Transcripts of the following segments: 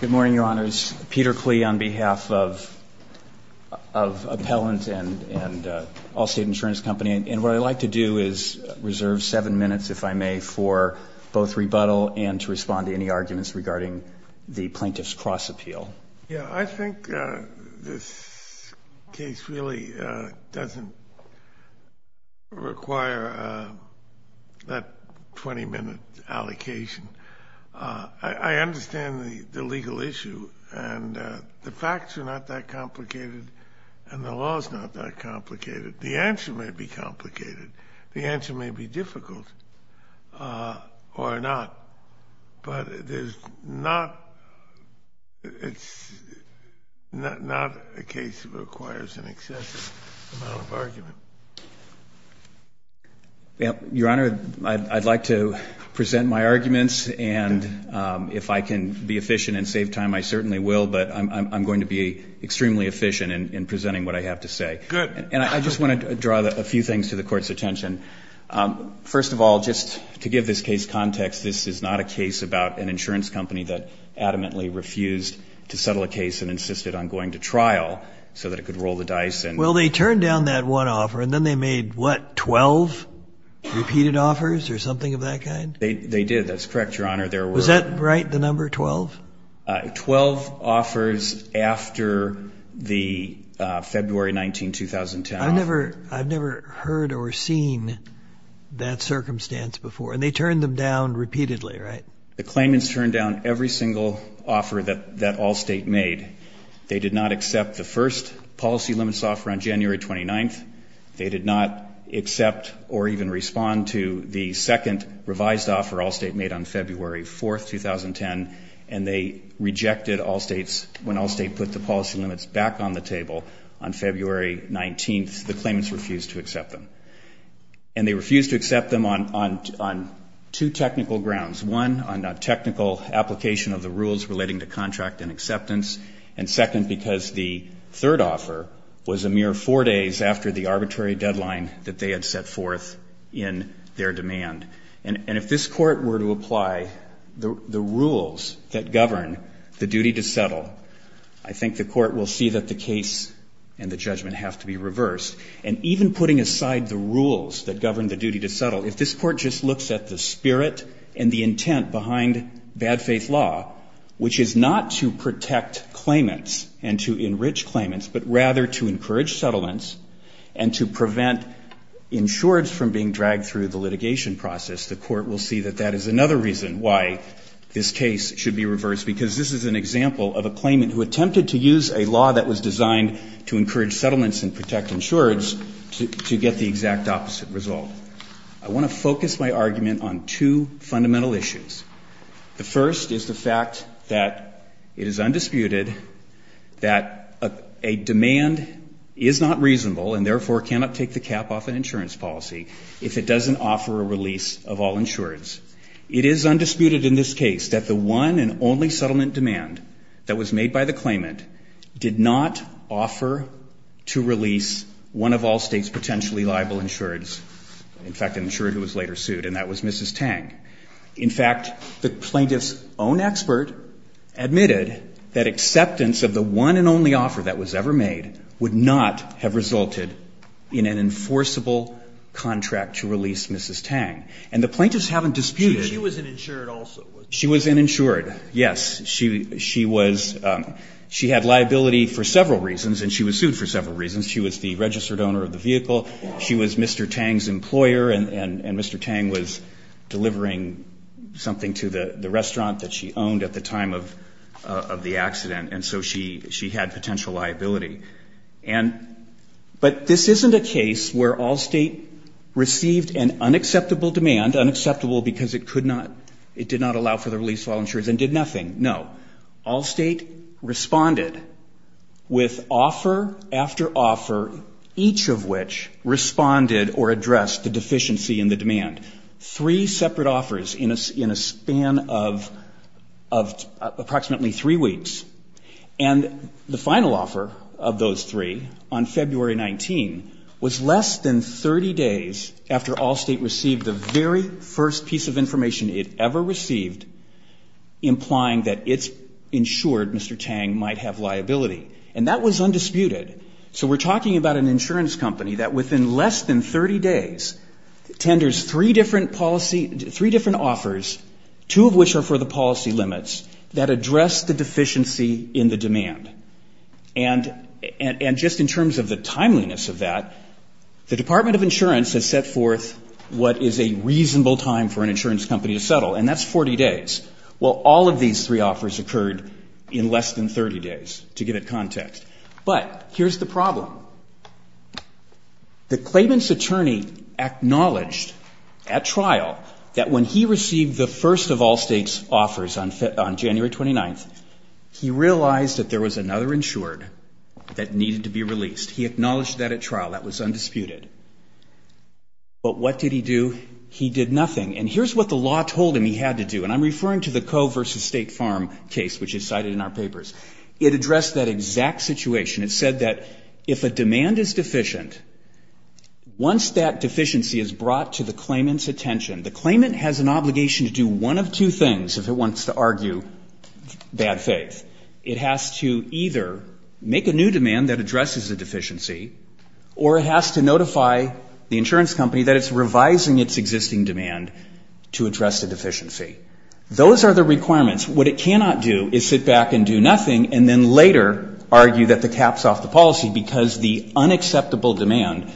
Good morning, Your Honors. Peter Klee on behalf of Appellant and Allstate Insurance Company, and what I'd like to do is reserve seven minutes, if I may, for both rebuttal and to respond to any arguments regarding the Plaintiff's Cross-Appeal. Yeah, I think this case really doesn't require that 20-minute allocation. I understand the legal issue, and the facts are not that complicated, and the law is not that complicated. The answer may be complicated. The answer may be difficult or not, but it's not a case that requires an excessive amount of argument. Your Honor, I'd like to present my arguments, and if I can be efficient and save time, I certainly will, but I'm going to be extremely efficient in presenting what I have to say. Good. And I just want to draw a few things to the Court's attention. First of all, just to give this case context, this is not a case about an insurance company that adamantly refused to settle a case and insisted on going to trial so that it could roll the dice. Well, they turned down that one offer, and then they made, what, 12 repeated offers or something of that kind? They did. That's correct, Your Honor. Was that right, the number 12? Twelve offers after the February 19, 2010 offer. I've never heard or seen that circumstance before, and they turned them down repeatedly, right? The claimants turned down every single offer that Allstate made. They did not accept the first policy limits offer on January 29. They did not accept or even respond to the second revised offer Allstate made on February 4, 2010, and they rejected Allstate's, when Allstate put the policy limits back on the table on February 19, the claimants refused to accept them. And they refused to accept them on two technical grounds. One, on a technical application of the rules relating to contract and acceptance, and second, because the third offer was a mere four days after the arbitrary deadline that they had set forth in their demand. And if this Court were to apply the rules that govern the duty to settle, I think the Court will see that the case and the judgment have to be reversed. And even putting aside the rules that govern the duty to settle, if this Court just looks at the spirit and the intent behind bad faith law, which is not to protect claimants and to enrich claimants, but rather to encourage settlements and to prevent insureds from being dragged through the litigation process, the Court will see that that is another reason why this case should be reversed. Because this is an example of a claimant who attempted to use a law that was designed to encourage settlements and protect insureds to get the exact opposite result. I want to focus my argument on two fundamental issues. The first is the fact that it is undisputed that a demand is not reasonable and therefore cannot take the cap off an insurance policy if it doesn't offer a release of all insureds. It is undisputed in this case that the one and only settlement demand that was made by the claimant did not offer to release one of all states' potentially liable insureds, in fact, an insured who was later sued, and that was Mrs. Tang. In fact, the plaintiff's own expert admitted that acceptance of the one and only offer that was ever made would not have resulted in an enforceable contract to release Mrs. Tang. And the plaintiffs haven't disputed... She was an insured also. She was an insured, yes. She had liability for several reasons, and she was sued for several reasons. She was the registered owner of the vehicle, she was Mr. Tang's employer, and Mr. Tang was delivering something to the restaurant that she owned at the time of the accident, and so she had potential liability. But this isn't a case where Allstate received an unacceptable demand, unacceptable because it could not, it did not allow for the release of all insureds and did nothing. No. Allstate responded with offer after offer, each of which responded or addressed the deficiency in the demand. Three separate offers in a span of approximately three weeks. And the final offer of those three on February 19 was less than 30 days after Allstate received the very first piece of information it ever received, implying that it's insured Mr. Tang might have liability. And that was undisputed. So we're talking about an insurance company that within less than 30 days tenders three different policy, three different offers, two of which are for the policy limits, that address the deficiency in the demand. And just in terms of the timeliness of that, the Department of Insurance has set forth what is a reasonable time for an insurance company to settle, and that's 40 days. Well, all of these three offers occurred in less than 30 days, to give it context. But here's the problem. The claimant's attorney acknowledged at trial that when he received the first of Allstate's offers on January 29th, he realized that the claimant's attorney was not going to be able to do that. He realized that there was another insured that needed to be released. He acknowledged that at trial. That was undisputed. But what did he do? He did nothing. And here's what the law told him he had to do, and I'm referring to the Coe versus State Farm case, which is cited in our papers. It addressed that exact situation. It said that if a demand is deficient, once that deficiency is brought to the claimant's attention, the claimant has an obligation to do one of two things, if it wants to argue bad faith. It has to either make a new demand that addresses the deficiency, or it has to notify the insurance company that it's revising its existing demand to address the deficiency. Those are the requirements. What it cannot do is sit back and do nothing and then later argue that the cap's off the policy because the unacceptable demand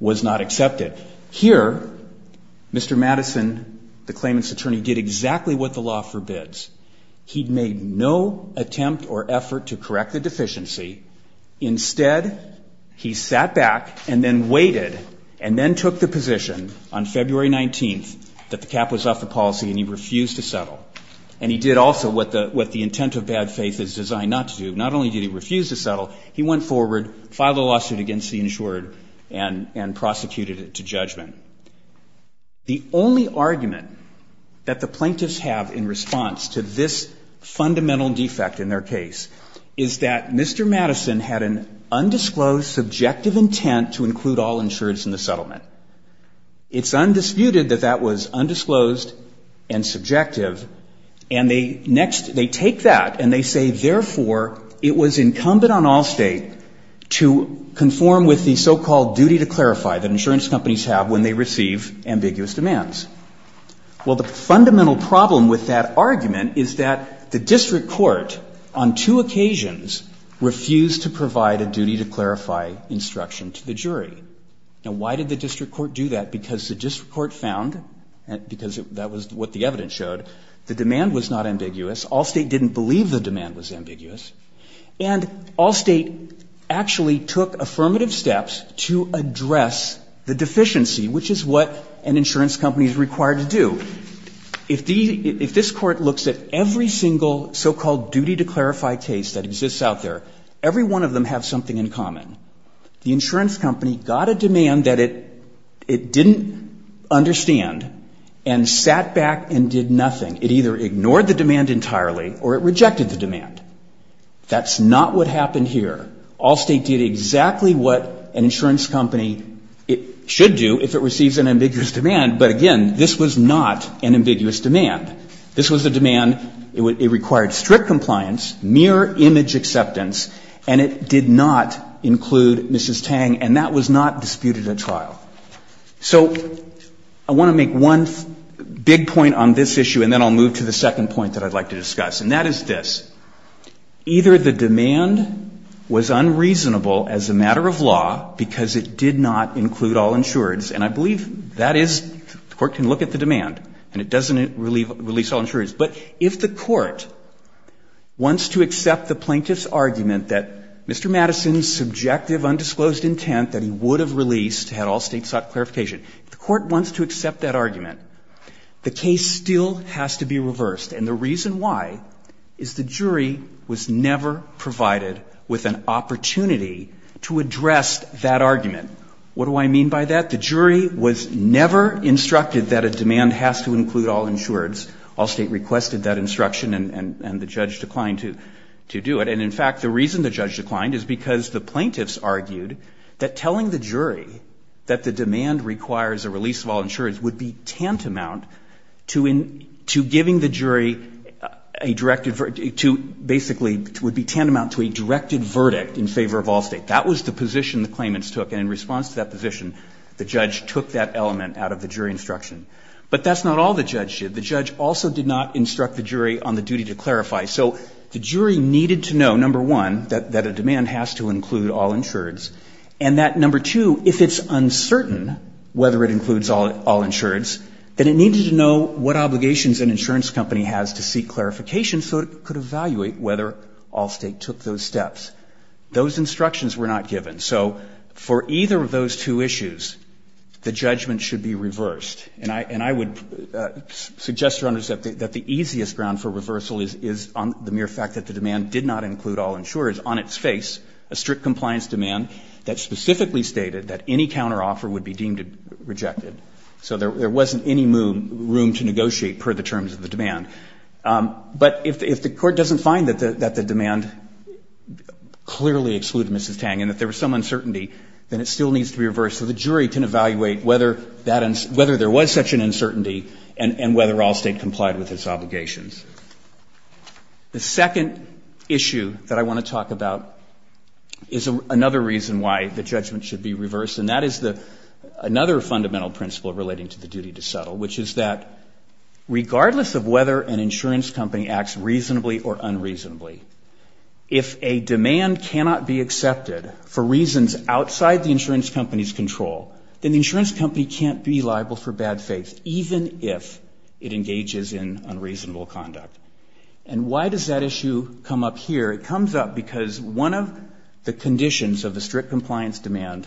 was not accepted. Here, Mr. Madison, the claimant's attorney, did exactly what the law forbids. He made no attempt or effort to correct the deficiency. Instead, he sat back and then waited and then took the position on February 19th that the cap was off the policy and he refused to settle. And he did also what the intent of bad faith is designed not to do. Not only did he refuse to settle, he went forward, filed a lawsuit against the insured, and prosecuted it to judgment. The only argument that the plaintiffs have in response to this fundamental defect in their case is that Mr. Madison had an undisclosed, subjective intent to include all insureds in the settlement. It's undisputed that that was undisclosed and subjective, and they next, they take that and they say, therefore, it was incumbent on Allstate to conform with the so-called duty to clarify that insurance companies have when they receive ambiguous demands. Well, the fundamental problem with that argument is that the district court on two occasions refused to provide a duty to clarify instruction to the jury. Now, why did the district court do that? Because the district court found, because that was what the evidence showed, the demand was not ambiguous. Allstate didn't believe the demand was ambiguous. And Allstate actually took affirmative steps to address the deficiency, which is what an insurance company is required to do. The insurance company got a demand that it didn't understand and sat back and did nothing. It either ignored the demand entirely or it rejected the demand. That's not what happened here. Allstate did exactly what an insurance company should do if it receives an ambiguous demand. But again, this was not an ambiguous demand. This was a demand, it required strict compliance, mere image acceptance, and it did not include Mrs. Tang, and that was not disputed at trial. So I want to make one big point on this issue, and then I'll move to the second point that I'd like to discuss, and that is this. Either the demand was unreasonable as a matter of law because it did not include all insureds, and I believe that is the court can look at the demand and it doesn't release all insureds. But if the court wants to accept the plaintiff's argument that Mr. Madison's subjective undisclosed intent that he would have released had Allstate sought clarification, if the court wants to accept that argument, the case still has to be reversed. And the reason why is the jury was never provided with an opportunity to address that argument. What do I mean by that? The jury was never instructed that a demand has to include all insureds. Allstate requested that instruction and the judge declined to do it. And in fact, the reason the judge declined is because the plaintiffs argued that telling the jury that the demand requires a release of all insureds would be tantamount to giving the jury a directed to basically would be tantamount to a directed verdict in favor of Allstate. That was the position the claimants took. And in response to that position, the judge took that element out of the jury instruction. But that's not all the judge did. The judge also did not instruct the jury on the duty to clarify. So the jury needed to know, number one, that a demand has to include all insureds and that, number two, if it's uncertain whether it includes all insureds, then it needed to know what obligations an insurance company has to seek clarification so it could evaluate whether Allstate took those steps. Those instructions were not given. So for either of those two issues, the judgment should be reversed. And I would suggest, Your Honors, that the easiest ground for reversal is on the mere fact that the demand did not include all insureds on its face, a strict compliance demand that specifically stated that any counteroffer would be deemed rejected. So there wasn't any room to negotiate per the terms of the demand. But if the Court doesn't find that the demand clearly excluded Mrs. Tang and that there was some uncertainty, then it still needs to be reversed so the jury can evaluate whether there was such an uncertainty and whether Allstate complied with its obligations. The second issue that I want to talk about is another reason why the judgment should be reversed, and that is another fundamental principle relating to the duty to settle, which is that regardless of whether an insurance company acts reasonably or unreasonably, if a demand cannot be accepted for reasons outside the insurance company's control, then the insurance company can't be liable for bad faith, even if it engages in unreasonable conduct. And why does that issue come up here? It comes up because one of the conditions of the strict compliance demand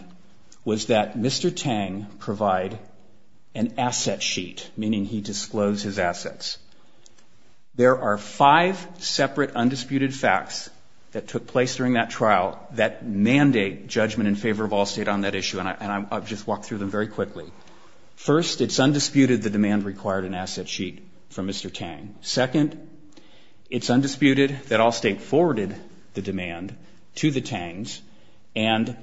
was that there was an asset sheet, meaning he disclosed his assets. There are five separate undisputed facts that took place during that trial that mandate judgment in favor of Allstate on that issue, and I'll just walk through them very quickly. First, it's undisputed the demand required an asset sheet from Mr. Tang. Second, it's undisputed that Allstate forwarded the demand to the Tangs, and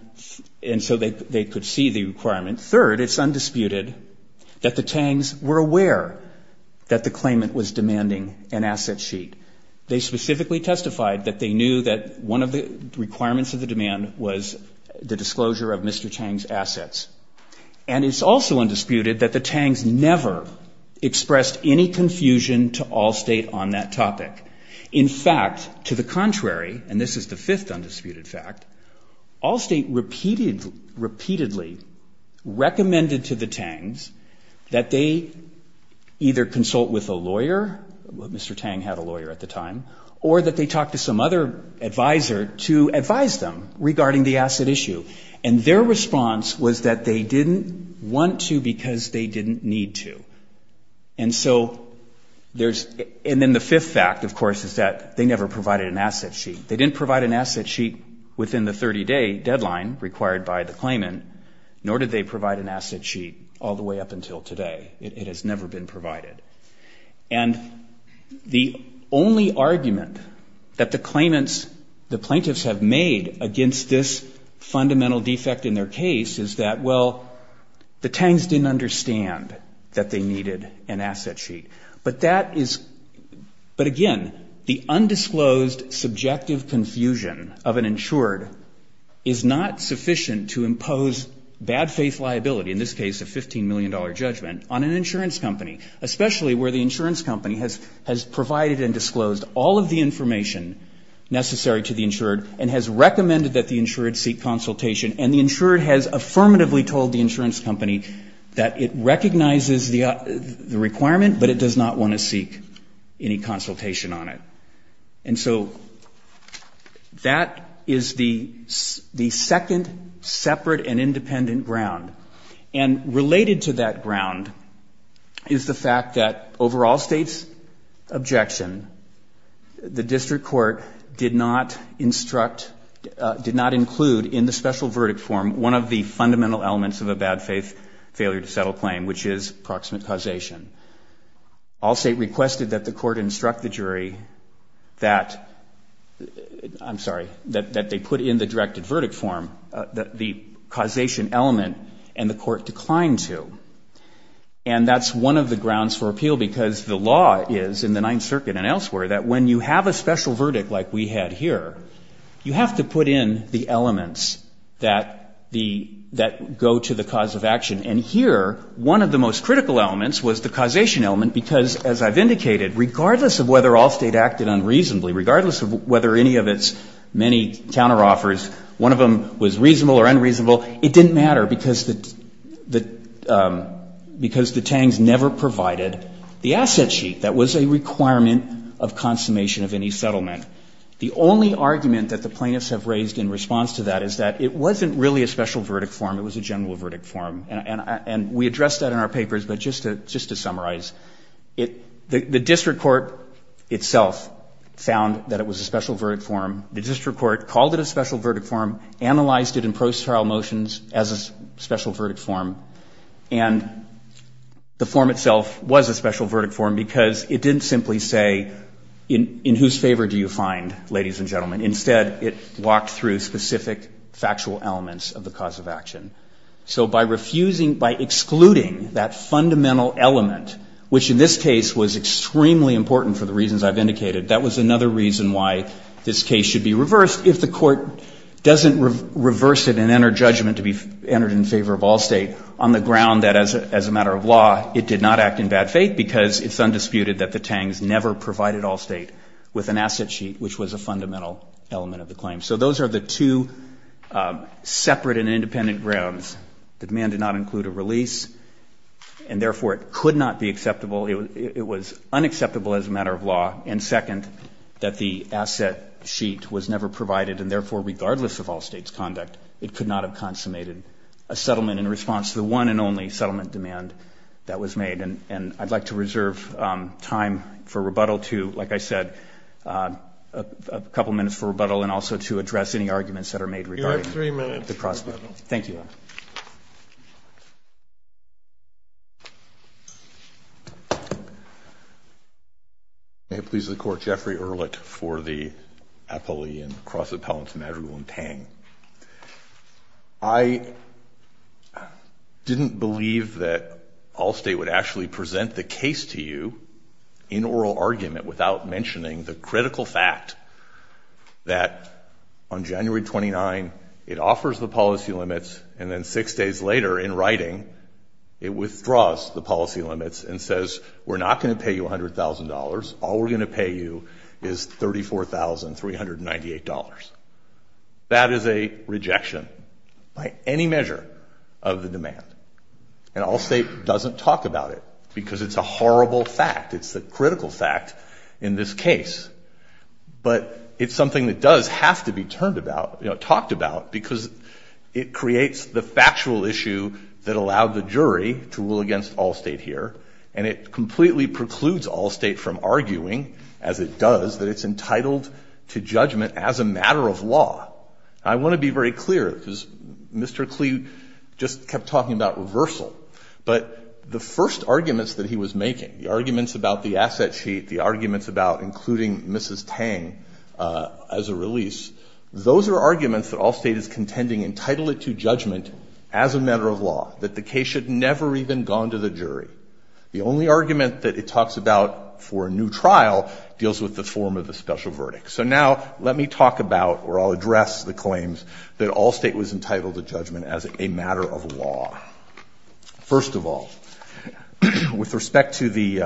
so they could see the requirement. Third, it's undisputed that the Tangs were aware that the claimant was demanding an asset sheet. They specifically testified that they knew that one of the requirements of the demand was the disclosure of Mr. Tang's assets, and it's also undisputed that the Tangs never expressed any confusion to Allstate on that topic. In fact, to the contrary, and this is the fifth undisputed fact, Allstate repeatedly recommended to the Tangs that they either consult with a lawyer, Mr. Tang had a lawyer at the time, or that they talk to some other advisor to advise them regarding the asset issue, and their response was that they didn't want to because they didn't need to. And so there's – and then the fifth fact, of course, is that they never provided an asset sheet. They didn't provide an asset sheet within the 30-day deadline required by the claimant, nor did they provide an asset sheet all the way up until today. It has never been provided. And the only argument that the claimants, the plaintiffs, have made against this fundamental defect in their case is that, well, the Tangs didn't understand that they needed an asset sheet. But that is – but again, the undisclosed subjective confusion of an insured is not sufficient to impose bad faith liability, in this case a $15 million judgment, on an insurance company, especially where the insurance company has provided and disclosed all of the information necessary to the insured and has recommended that the insured seek consultation, and the insured has affirmatively told the insurance company that it does not want to seek any consultation on it. And so that is the second separate and independent ground. And related to that ground is the fact that, over all states' objection, the district court did not instruct – did not include in the special verdict form one of the fundamental elements of a bad faith failure to settle claim, which is proximate causation. All state requested that the court instruct the jury that – I'm sorry – that they put in the directed verdict form the causation element, and the court declined to. And that's one of the grounds for appeal, because the law is, in the Ninth Circuit and elsewhere, that when you have a special verdict like we had here, you have to put in the cause of action. And here, one of the most critical elements was the causation element, because as I've indicated, regardless of whether all state acted unreasonably, regardless of whether any of its many counteroffers, one of them was reasonable or unreasonable, it didn't matter, because the – because the Tangs never provided the asset sheet that was a requirement of consummation of any settlement. The only argument that the Plaintiffs have raised in response to that is that it wasn't really a special verdict form, it was a general verdict form. And we addressed that in our papers, but just to – just to summarize, it – the district court itself found that it was a special verdict form. The district court called it a special verdict form, analyzed it in procedural motions as a special verdict form, and the form itself was a special verdict form because it didn't simply say, in whose favor do you find, ladies and gentlemen. Instead, it walked through specific factual elements of the cause of action. So by refusing – by excluding that fundamental element, which in this case was extremely important for the reasons I've indicated, that was another reason why this case should be reversed if the court doesn't reverse it and enter judgment to be entered in favor of all state on the ground that as a – as a matter of law, it did not act in bad faith because it's undisputed that the Tangs never provided all state with an asset sheet, which was a fundamental element of the claim. So those are the two separate and independent grounds. The demand did not include a release, and therefore it could not be acceptable. It was unacceptable as a matter of law. And second, that the asset sheet was never provided, and therefore regardless of all state's conduct, it could not have consummated a settlement in response to the one and only settlement demand that was made. And I'd like to reserve time for rebuttal to, like I said, a couple minutes for rebuttal and also to address any arguments that are made regarding the prospect. You have three minutes for rebuttal. Thank you. May it please the Court, Jeffrey Ehrlich for the appellee and cross appellants Madrigal and Tang. I didn't believe that all state would actually present the case to you in oral argument without mentioning the critical fact that on January 29, it offers the policy limits, and then six days later in writing, it withdraws the policy limits and says, we're not going to pay you $100,000. All we're going to pay you is $34,398. That is a rejection by any measure of the demand. And all state doesn't talk about it because it's a horrible fact. It's a critical fact in this case. But it's something that does have to be turned about, talked about, because it creates the factual issue that allowed the jury to rule against all state here, and it completely precludes all state from arguing, as it does, that it's entitled to judgment as a matter of law. I want to be very clear, because Mr. Klee just kept talking about reversal, but the first arguments that he was making, the arguments about the asset sheet, the arguments about including Mrs. Tang as a release, those are arguments that all state is contending entitled it to judgment as a matter of law, that the case should never even gone to the jury. The only argument that it talks about for a new trial deals with the form of the special verdict. So now, let me talk about, or I'll address the claims that all state was entitled to judgment as a matter of law. First of all, with respect to the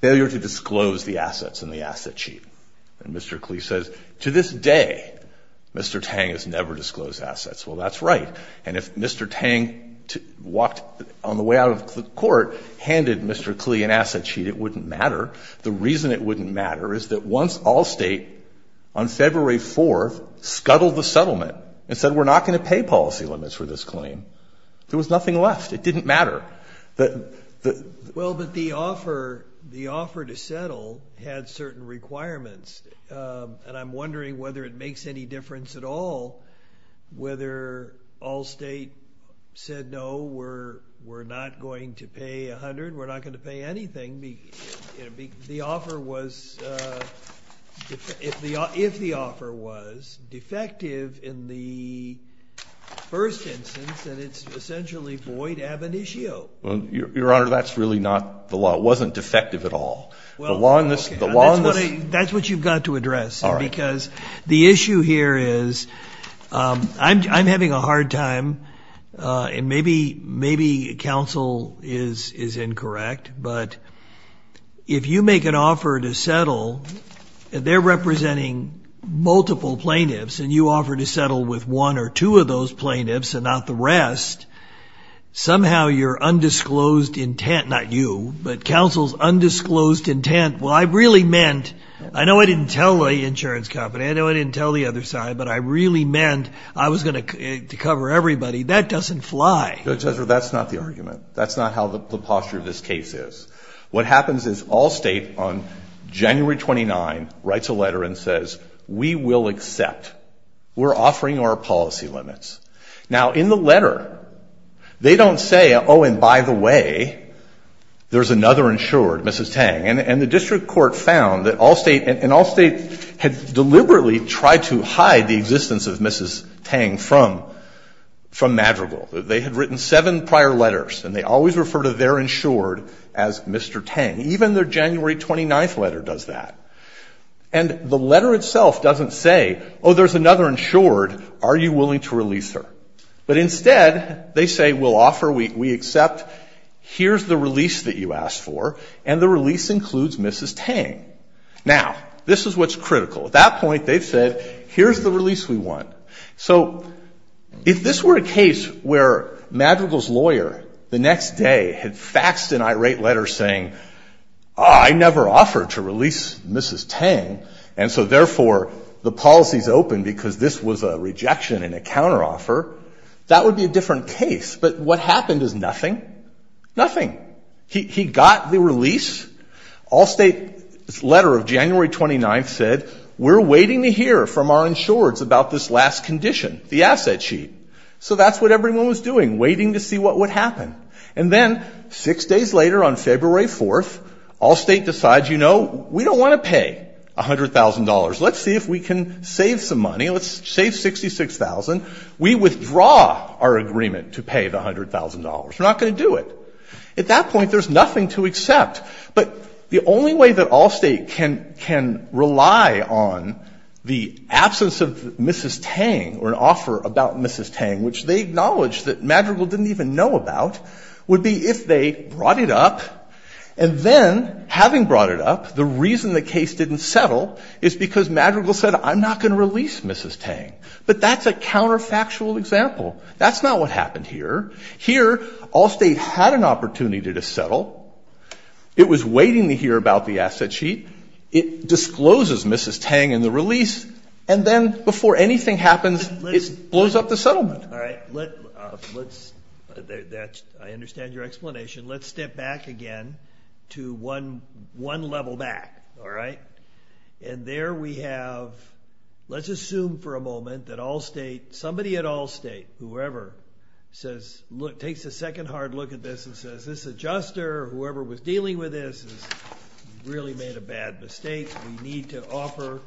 failure to disclose the assets in the asset sheet. And Mr. Klee says, to this day, Mr. Tang has never disclosed assets. Well, that's right. And if Mr. Tang walked on the way out of court, handed Mr. Klee an asset sheet, it wouldn't matter. The reason it wouldn't matter is that once all state, on February 4th, scuttled the settlement and said we're not going to pay policy limits for this claim, there was nothing left. It didn't matter. Well, but the offer to settle had certain requirements. And I'm wondering whether it makes any difference at all whether all state said no, we're not going to pay 100, we're not going to pay anything. The offer was, if the offer was, defective in the first instance, and it's essentially void ab initio. Well, Your Honor, that's really not the law. It wasn't defective at all. The law in this... That's what you've got to address. All right. Because the issue here is, I'm having a hard time, and maybe counsel is incorrect, but if you make an offer to settle, and they're representing multiple plaintiffs, and you offer to settle with one or two of those plaintiffs, somehow your undisclosed intent, not you, but counsel's undisclosed intent, well, I really meant, I know I didn't tell the insurance company, I know I didn't tell the other side, but I really meant I was going to cover everybody. That doesn't fly. Judge Ezra, that's not the argument. That's not how the posture of this case is. What happens is all state, on January 29th, writes a letter and says, we will accept. We're offering our policy limits. Now, in the letter, they don't say, oh, and by the way, there's another insured, Mrs. Tang. And the district court found that all state, and all state had deliberately tried to hide the existence of Mrs. Tang from Madrigal. They had written seven prior letters, and they always refer to their insured as Mr. Tang. Even their January 29th letter does that. And the letter itself doesn't say, oh, there's another insured, are you willing to release her? But instead, they say, we'll offer, we accept, here's the release that you asked for, and the release includes Mrs. Tang. Now, this is what's critical. At that point, they've said, here's the release we want. So if this were a case where Madrigal's lawyer, the next day, had faxed an irate letter saying, oh, I never offered to release Mrs. Tang, and so therefore, the policy's open because this was a rejection and a counteroffer, that would be a different case. But what happened is nothing. Nothing. He got the release. All state's letter of January 29th said, we're waiting to hear from our insureds about this last condition, the asset sheet. So that's what everyone was doing, waiting to see what would happen. And then, six days later, on February 4th, all state decides, you know, we don't want to pay $100,000. Let's see if we can save some money. Let's save $66,000. We withdraw our agreement to pay the $100,000. We're not going to do it. At that point, there's nothing to accept. But the only way that all state can rely on the absence of Mrs. Tang or an offer about Mrs. Tang, which they acknowledge that Madrigal didn't even know about, would be if they brought it up. And then, having brought it up, the reason the case didn't settle is because Madrigal said, I'm not going to release Mrs. Tang. But that's a counterfactual example. That's not what happened here. Here, all state had an opportunity to settle. It was waiting to hear about the asset sheet. It discloses Mrs. Tang in the release. And then, before anything happens, it blows up the settlement. I understand your explanation. Let's step back again to one level back. And there we have, let's assume for a moment that somebody at all state, whoever, takes a second hard look at this and says, this adjuster, whoever was dealing with this, has really made a bad mistake. We need to offer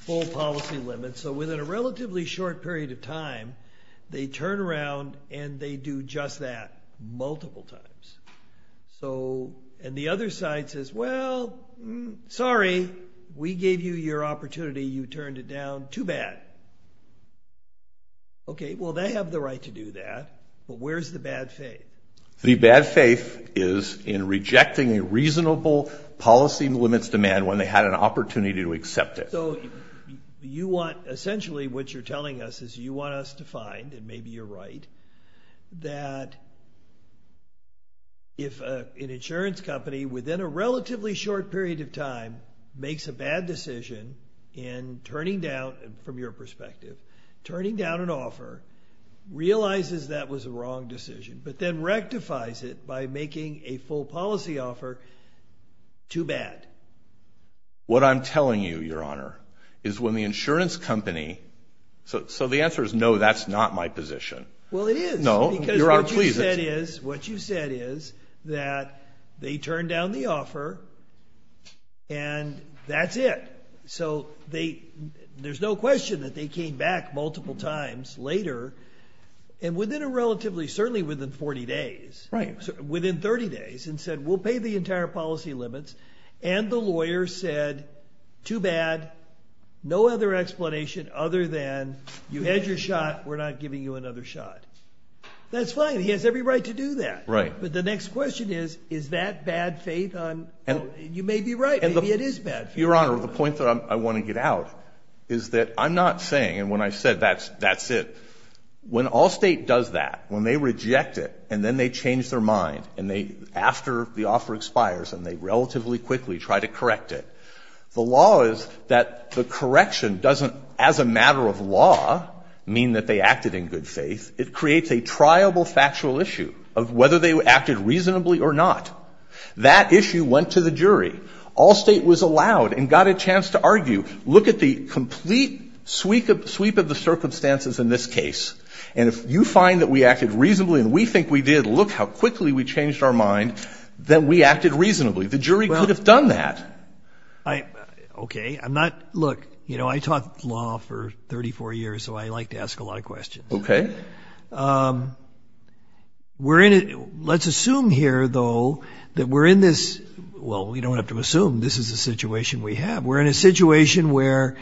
full policy limits. So within a relatively short period of time, they turn around and they do just that multiple times. And the other side says, well, sorry. We gave you your opportunity. You turned it down too bad. Okay, well, they have the right to do that. But where's the bad faith? The bad faith is in rejecting a reasonable policy limits demand when they had an opportunity to accept it. So you want, essentially, what you're telling us is you want us to find, and maybe you're right, that if an insurance company, within a relatively short period of time, makes a bad decision in turning down, from your perspective, turning down an offer, realizes that was a wrong decision, but then rectifies it by making a full policy offer too bad. What I'm telling you, Your Honor, is when the insurance company, so the answer is no, that's not my position. Well, it is. No, Your Honor, please. Because what you said is that they turned down the offer and that's it. So there's no question that they came back multiple times later, and within a relatively, certainly within 40 days, within 30 days, and said, we'll pay the entire policy limits, and the lawyer said, too bad, no other explanation other than you had your shot, we're not giving you another shot. That's fine. He has every right to do that. Right. But the next question is, is that bad faith? You may be right. Maybe it is bad faith. Your Honor, the point that I want to get out is that I'm not saying, and when I said that's it, when all state does that, when they reject it, and then they change their mind, and they, after the offer expires, and they relatively quickly try to correct it, the law is that the correction doesn't, as a matter of law, mean that they acted in good faith. It creates a triable factual issue of whether they acted reasonably or not. That issue went to the jury. All state was allowed and got a chance to argue, look at the complete sweep of the circumstances in this case, and if you find that we acted reasonably and we think we did, look how quickly we changed our mind, then we acted reasonably. The jury could have done that. Okay. I'm not, look, you know, I taught law for 34 years, so I like to ask a lot of questions. Okay. We're in a, let's assume here, though, that we're in this, well, we don't have to assume, this is the situation we have. We're in a situation where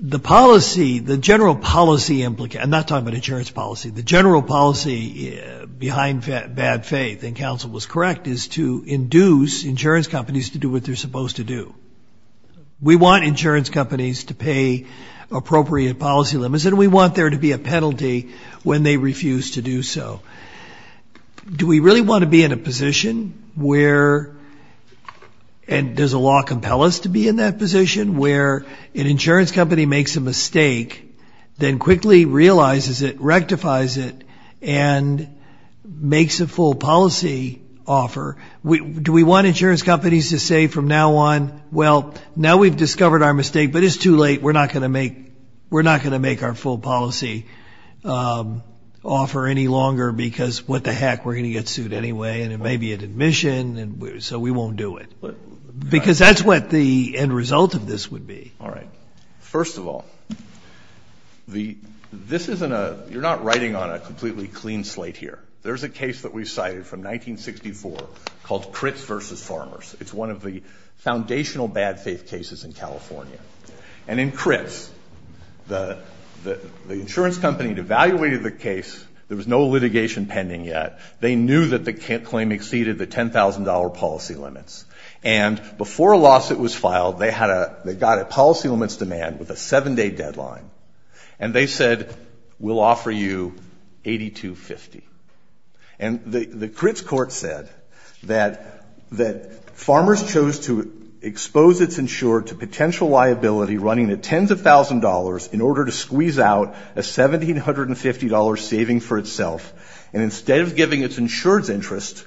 the policy, the general policy, I'm not talking about insurance policy, the general policy behind bad faith, and counsel was correct, is to induce insurance companies to do what they're supposed to do. We want insurance companies to pay appropriate policy limits, and we want there to be a penalty when they refuse to do so. Do we really want to be in a position where, and does the law compel us to be in that position, where an insurance company makes a mistake, then quickly realizes it, rectifies it, and makes a full policy offer? Do we want insurance companies to say from now on, well, now we've discovered our mistake, but it's too late, we're not going to make our full policy offer any longer, because what the heck, we're going to get sued anyway, and it may be at admission, so we won't do it. Because that's what the end result of this would be. All right. First of all, this isn't a, you're not writing on a completely clean slate here. There's a case that we've cited from 1964 called Critts v. Farmers. It's one of the foundational bad faith cases in California. And in Critts, the insurance company had evaluated the case. There was no litigation pending yet. They knew that the claim exceeded the $10,000 policy limits. And before a lawsuit was filed, they got a policy limits demand with a seven-day deadline. And they said, we'll offer you $82.50. And the Critts court said that Farmers chose to expose its insurer to potential liability running at tens of thousands of dollars in order to squeeze out a $1,750 saving for itself, and instead of giving its insured's interest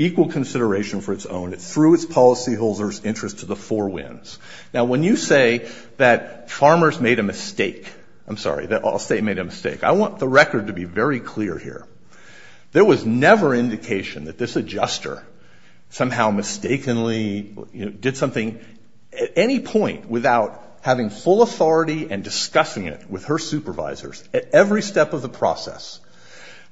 equal consideration for its own, it threw its policy holder's interest to the four winds. Now, when you say that Farmers made a mistake, I'm sorry, I'll say made a mistake. I want the record to be very clear here. There was never indication that this adjuster somehow mistakenly did something at any point without having full authority and discussing it with her supervisors at every step of the process.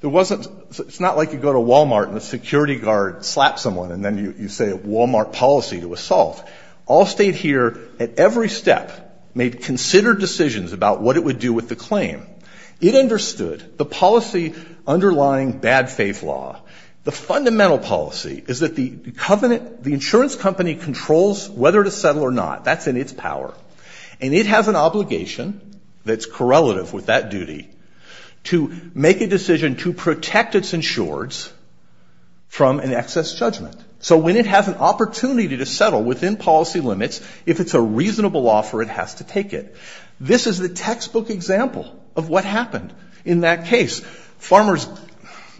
It's not like you go to Walmart and a security guard slaps someone and then you say a Walmart policy to assault. All stayed here at every step, made considered decisions about what it would do with the claim. It understood the policy underlying bad faith law. The fundamental policy is that the insurance company controls whether to settle or not. That's in its power. And it has an obligation that's correlative with that duty to make a decision to protect its insured's from an excess judgment. So when it has an opportunity to settle within policy limits, if it's a reasonable offer, it has to take it. This is the textbook example of what happened in that case. Farmers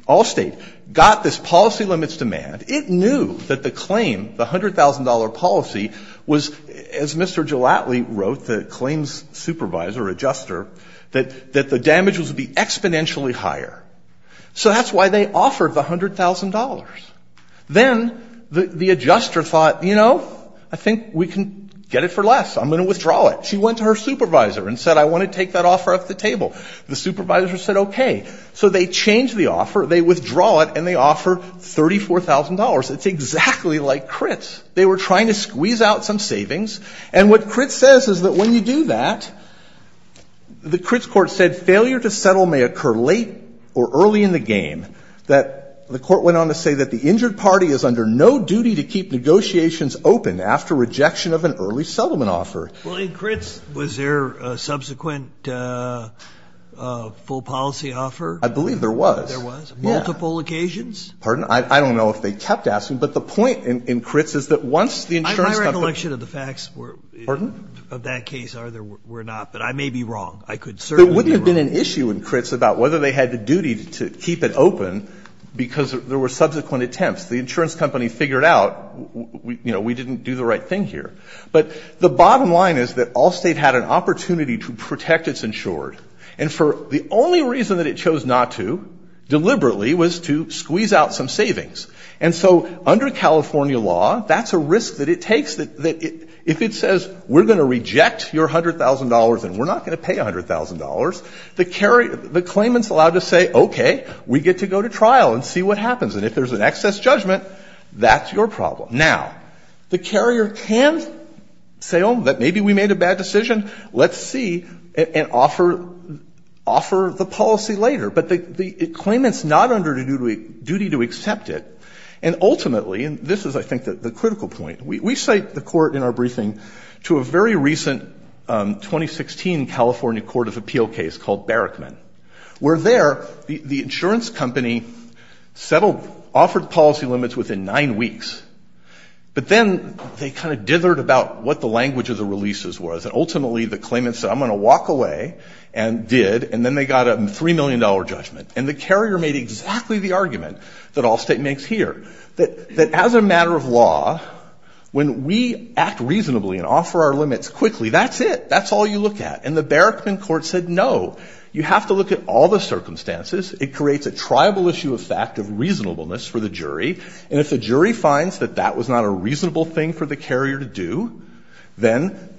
Allstate got this policy limits demand. It knew that the claim, the $100,000 policy, was, as Mr. Gelatly wrote, the claim's supervisor, adjuster, that the damage was to be exponentially higher. So that's why they offered the $100,000. Then the adjuster thought, you know, I think we can get it for less. I'm going to withdraw it. She went to her supervisor and said, I want to take that offer off the table. The supervisor said, okay. So they change the offer, they withdraw it, and they offer $34,000. It's exactly like Critts. They were trying to squeeze out some savings. And what Critts says is that when you do that, the Critts court said, failure to settle may occur late or early in the game. The court went on to say that the injured party is under no duty to keep negotiations open after rejection of an early settlement offer. Well, in Critts, was there a subsequent full policy offer? I believe there was. There was? Multiple occasions? Pardon? I don't know if they kept asking. But the point in Critts is that once the insurance company ---- My recollection of the facts were ---- Pardon? Of that case were not. But I may be wrong. I could certainly be wrong. There wouldn't have been an issue in Critts about whether they had the duty to keep it open because there were subsequent attempts. The insurance company figured out, you know, we didn't do the right thing here. But the bottom line is that Allstate had an opportunity to protect its insured. And for the only reason that it chose not to deliberately was to squeeze out some savings. And so under California law, that's a risk that it takes that if it says we're going to reject your $100,000 and we're not going to pay $100,000, the claimant is allowed to say, okay, we get to go to trial and see what happens. And if there's an excess judgment, that's your problem. Now, the carrier can say, oh, maybe we made a bad decision. Let's see and offer the policy later. But the claimant is not under a duty to accept it. And ultimately, and this is, I think, the critical point, we cite the Court in our briefing to a very recent 2016 California court of appeal case called Barrickman where there the insurance company settled, offered policy limits within nine weeks but then they kind of dithered about what the language of the releases was. And ultimately, the claimant said, I'm going to walk away and did. And then they got a $3 million judgment. And the carrier made exactly the argument that Allstate makes here, that as a matter of law, when we act reasonably and offer our limits quickly, that's it. That's all you look at. And the Barrickman court said, no, you have to look at all the circumstances. And if the jury finds that that was not a reasonable thing for the carrier to do, then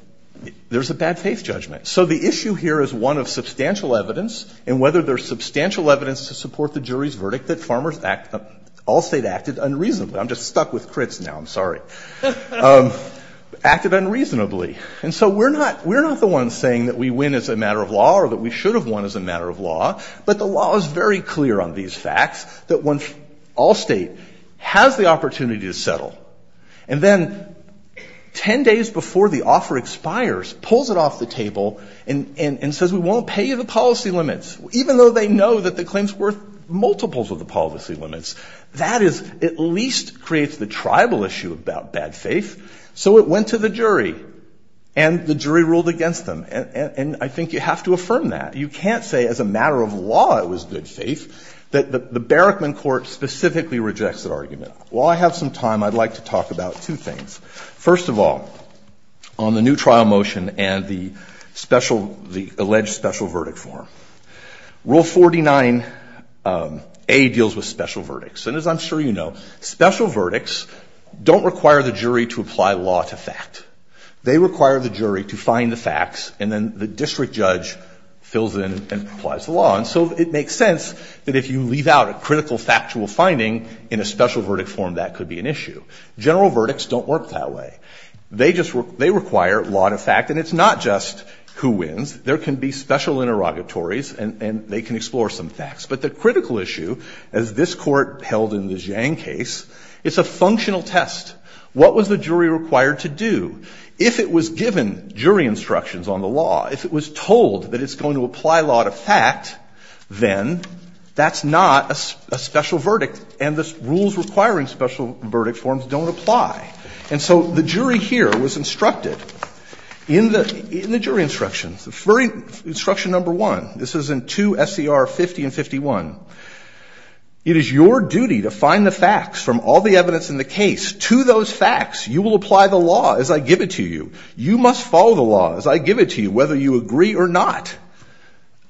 there's a bad faith judgment. So the issue here is one of substantial evidence. And whether there's substantial evidence to support the jury's verdict that Allstate acted unreasonably. I'm just stuck with crits now. I'm sorry. Acted unreasonably. And so we're not the ones saying that we win as a matter of law or that we should have won as a matter of law. But the law is very clear on these facts, that when Allstate has the opportunity to settle, and then 10 days before the offer expires, pulls it off the table and says, we won't pay you the policy limits, even though they know that the claim's worth multiples of the policy limits. That is, at least creates the tribal issue about bad faith. So it went to the jury. And the jury ruled against them. And I think you have to affirm that. You can't say as a matter of law it was good faith. The Barrickman Court specifically rejects that argument. While I have some time, I'd like to talk about two things. First of all, on the new trial motion and the alleged special verdict form. Rule 49A deals with special verdicts. And as I'm sure you know, special verdicts don't require the jury to apply law to fact. They require the jury to find the facts. And then the district judge fills in and applies the law. And so it makes sense that if you leave out a critical factual finding in a special verdict form, that could be an issue. General verdicts don't work that way. They just require law to fact. And it's not just who wins. There can be special interrogatories, and they can explore some facts. But the critical issue, as this Court held in the Zhang case, it's a functional test. What was the jury required to do? If it was given jury instructions on the law, if it was told that it's going to apply law to fact, then that's not a special verdict. And the rules requiring special verdict forms don't apply. And so the jury here was instructed in the jury instructions, instruction number one. This is in 2 SCR 50 and 51. It is your duty to find the facts from all the evidence in the case. To those facts, you will apply the law as I give it to you. You must follow the law as I give it to you, whether you agree or not.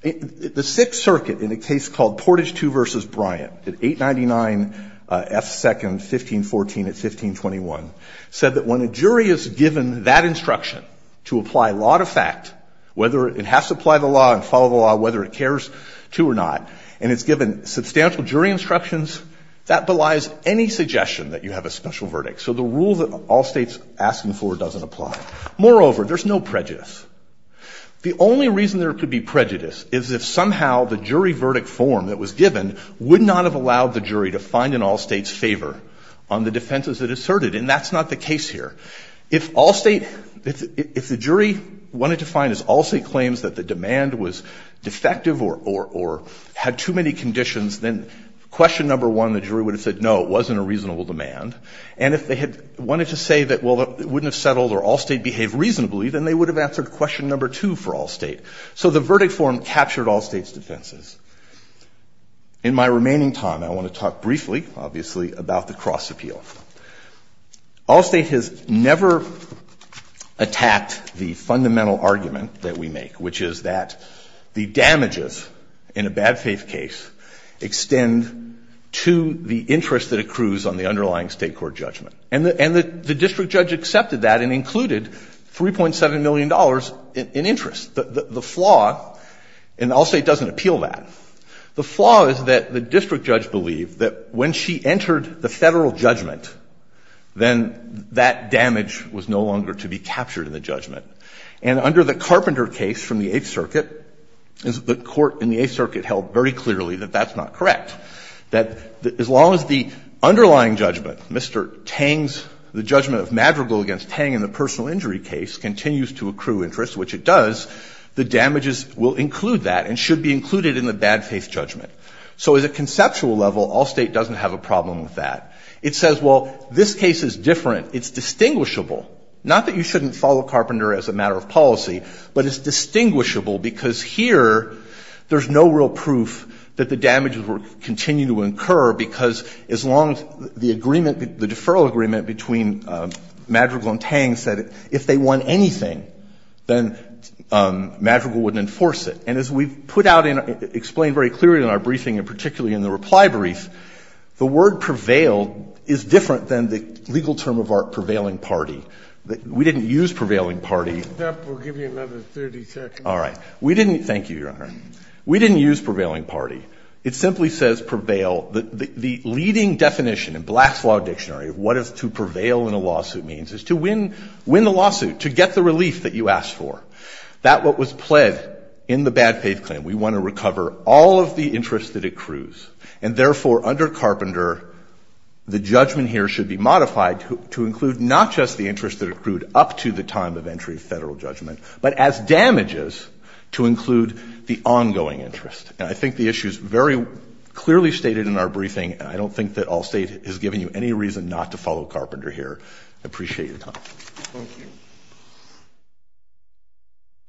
The Sixth Circuit, in a case called Portage II v. Bryant at 899 F. 2nd, 1514 at 1521, said that when a jury is given that instruction to apply law to fact, whether it has to apply the law and follow the law, whether it cares to or not, and it's given substantial jury instructions, that belies any suggestion that you have a special verdict. So the rule that Allstate's asking for doesn't apply. Moreover, there's no prejudice. The only reason there could be prejudice is if somehow the jury verdict form that was given would not have allowed the jury to find in Allstate's favor on the defenses it asserted. And that's not the case here. If Allstate, if the jury wanted to find, if Allstate claims that the demand was defective or had too many conditions, then question number one, the jury would have said, no, it wasn't a reasonable demand. And if they had wanted to say that, well, it wouldn't have settled or Allstate behaved reasonably, then they would have answered question number two for Allstate. So the verdict form captured Allstate's defenses. In my remaining time, I want to talk briefly, obviously, about the cross appeal. Allstate has never attacked the fundamental argument that we make, which is that the damages in a bad faith case extend to the interest that accrues on the underlying State court judgment. And the district judge accepted that and included $3.7 million in interest. The flaw, and Allstate doesn't appeal that, the flaw is that the district judge believed that when she entered the Federal judgment, then that damage was no longer to be captured in the judgment. And under the Carpenter case from the Eighth Circuit, the court in the Eighth Circuit held very clearly that that's not correct, that as long as the underlying judgment, Mr. Tang's, the judgment of Madrigal against Tang in the personal injury case continues to accrue interest, which it does, the damages will include that and should be included in the bad faith judgment. So at a conceptual level, Allstate doesn't have a problem with that. It says, well, this case is different. It's distinguishable. Not that you shouldn't follow Carpenter as a matter of policy, but it's distinguishable because here there's no real proof that the damages will continue to incur because as long as the agreement, the deferral agreement between Madrigal and Tang said if they won anything, then Madrigal wouldn't enforce it. And as we've put out and explained very clearly in our briefing and particularly in the reply brief, the word prevailed is different than the legal term of art prevailing party. We didn't use prevailing party. We'll give you another 30 seconds. All right. Thank you, Your Honor. We didn't use prevailing party. It simply says prevail. The leading definition in Black's Law Dictionary of what it's to prevail in a lawsuit means is to win the lawsuit, to get the relief that you asked for. That what was pled in the bad faith claim. We want to recover all of the interest that accrues, and therefore under Carpenter the judgment here should be modified to include not just the interest that accrued up to the time of entry of federal judgment, but as damages to include the ongoing interest. And I think the issue is very clearly stated in our briefing. I don't think that all State has given you any reason not to follow Carpenter here. I appreciate your comment. Thank you.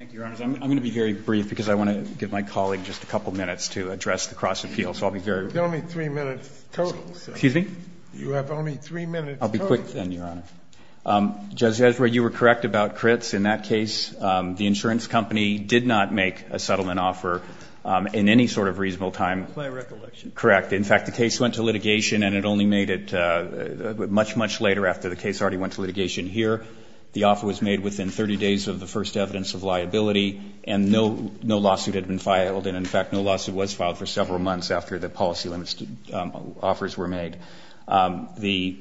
Thank you, Your Honors. I'm going to be very brief because I want to give my colleague just a couple minutes to address the cross-appeal. So I'll be very brief. You have only three minutes total. Excuse me? You have only three minutes total. I'll be quick then, Your Honor. Judge Ezra, you were correct about Critts. In that case, the insurance company did not make a settlement offer in any sort of reasonable time. My recollection. Correct. In fact, the case went to litigation, and it only made it much, much later after the case already went to litigation here. The offer was made within 30 days of the first evidence of liability, and no lawsuit had been filed. And in fact, no lawsuit was filed for several months after the policy limits offers were made. The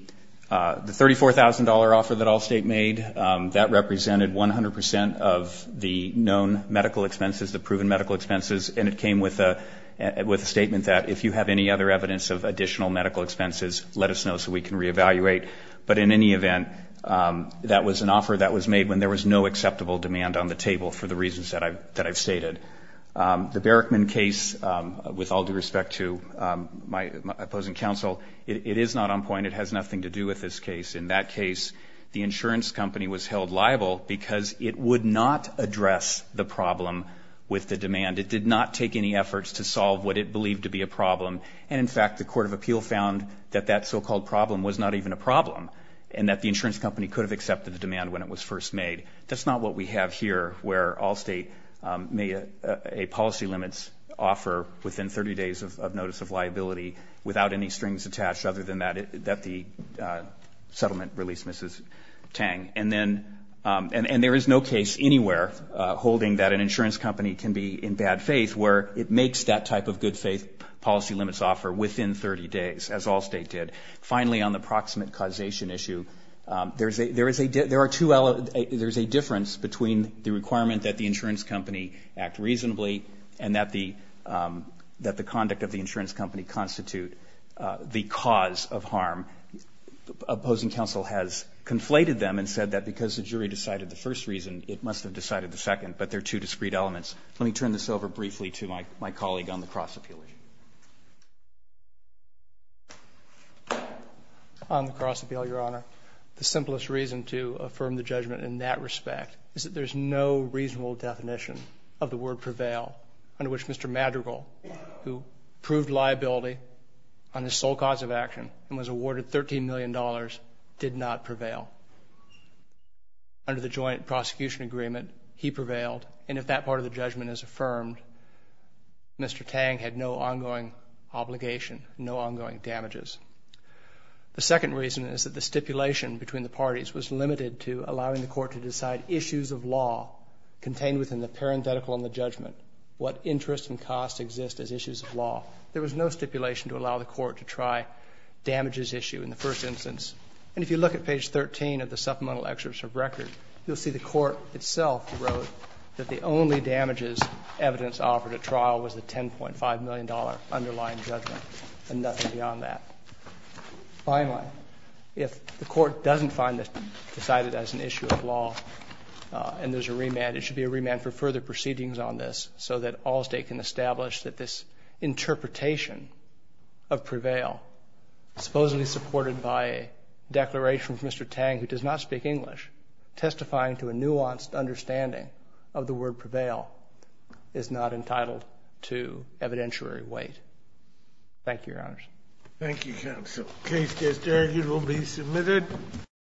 $34,000 offer that Allstate made, that represented 100% of the known medical expenses, the proven medical expenses, and it came with a statement that if you have any other evidence of additional medical expenses, let us know so we can reevaluate. But in any event, that was an offer that was made when there was no acceptable demand on the table for the reasons that I've stated. The Barrickman case, with all due respect to my opposing counsel, it is not on point. It has nothing to do with this case. In that case, the insurance company was held liable because it would not address the problem with the demand. It did not take any efforts to solve what it believed to be a problem. And in fact, the court of appeal found that that so-called problem was not even a problem and that the insurance company could have accepted the demand when it was first made. That's not what we have here where Allstate made a policy limits offer within 30 days of notice of liability without any strings attached other than that the settlement released Mrs. Tang. And there is no case anywhere holding that an insurance company can be in bad faith where it makes that type of good faith policy limits offer within 30 days, as Allstate did. Finally, on the proximate causation issue, there is a difference between the requirement that the insurance company act reasonably and that the conduct of the insurance company constitute the cause of harm. Opposing counsel has conflated them and said that because the jury decided the first reason, it must have decided the second, but there are two discrete elements. Let me turn this over briefly to my colleague on the cross-appeal issue. On the cross-appeal, Your Honor, the simplest reason to affirm the judgment in that respect is that there is no reasonable definition of the word prevail under which Mr. Madrigal, who proved liability on his sole cause of action and was awarded $13 million, did not prevail. Under the joint prosecution agreement, he prevailed. And if that part of the judgment is affirmed, Mr. Tang had no ongoing obligation, no ongoing damages. The second reason is that the stipulation between the parties was limited to allowing the court to decide issues of law contained within the parenthetical on the judgment, what interest and cost exist as issues of law. There was no stipulation to allow the court to try damages issue in the first instance. And if you look at page 13 of the supplemental excerpts of record, you'll see the court itself wrote that the only damages evidence offered at trial was the $10.5 million underlying judgment and nothing beyond that. Finally, if the court doesn't find this decided as an issue of law and there's a remand, it should be a remand for further proceedings on this so that all state can establish that this interpretation of prevail supposedly supported by a declaration from Mr. Tang who does not speak English, testifying to a nuanced understanding of the word prevail, is not entitled to evidentiary weight. Thank you, Your Honors. Thank you, Counsel. The case is there. It will be submitted.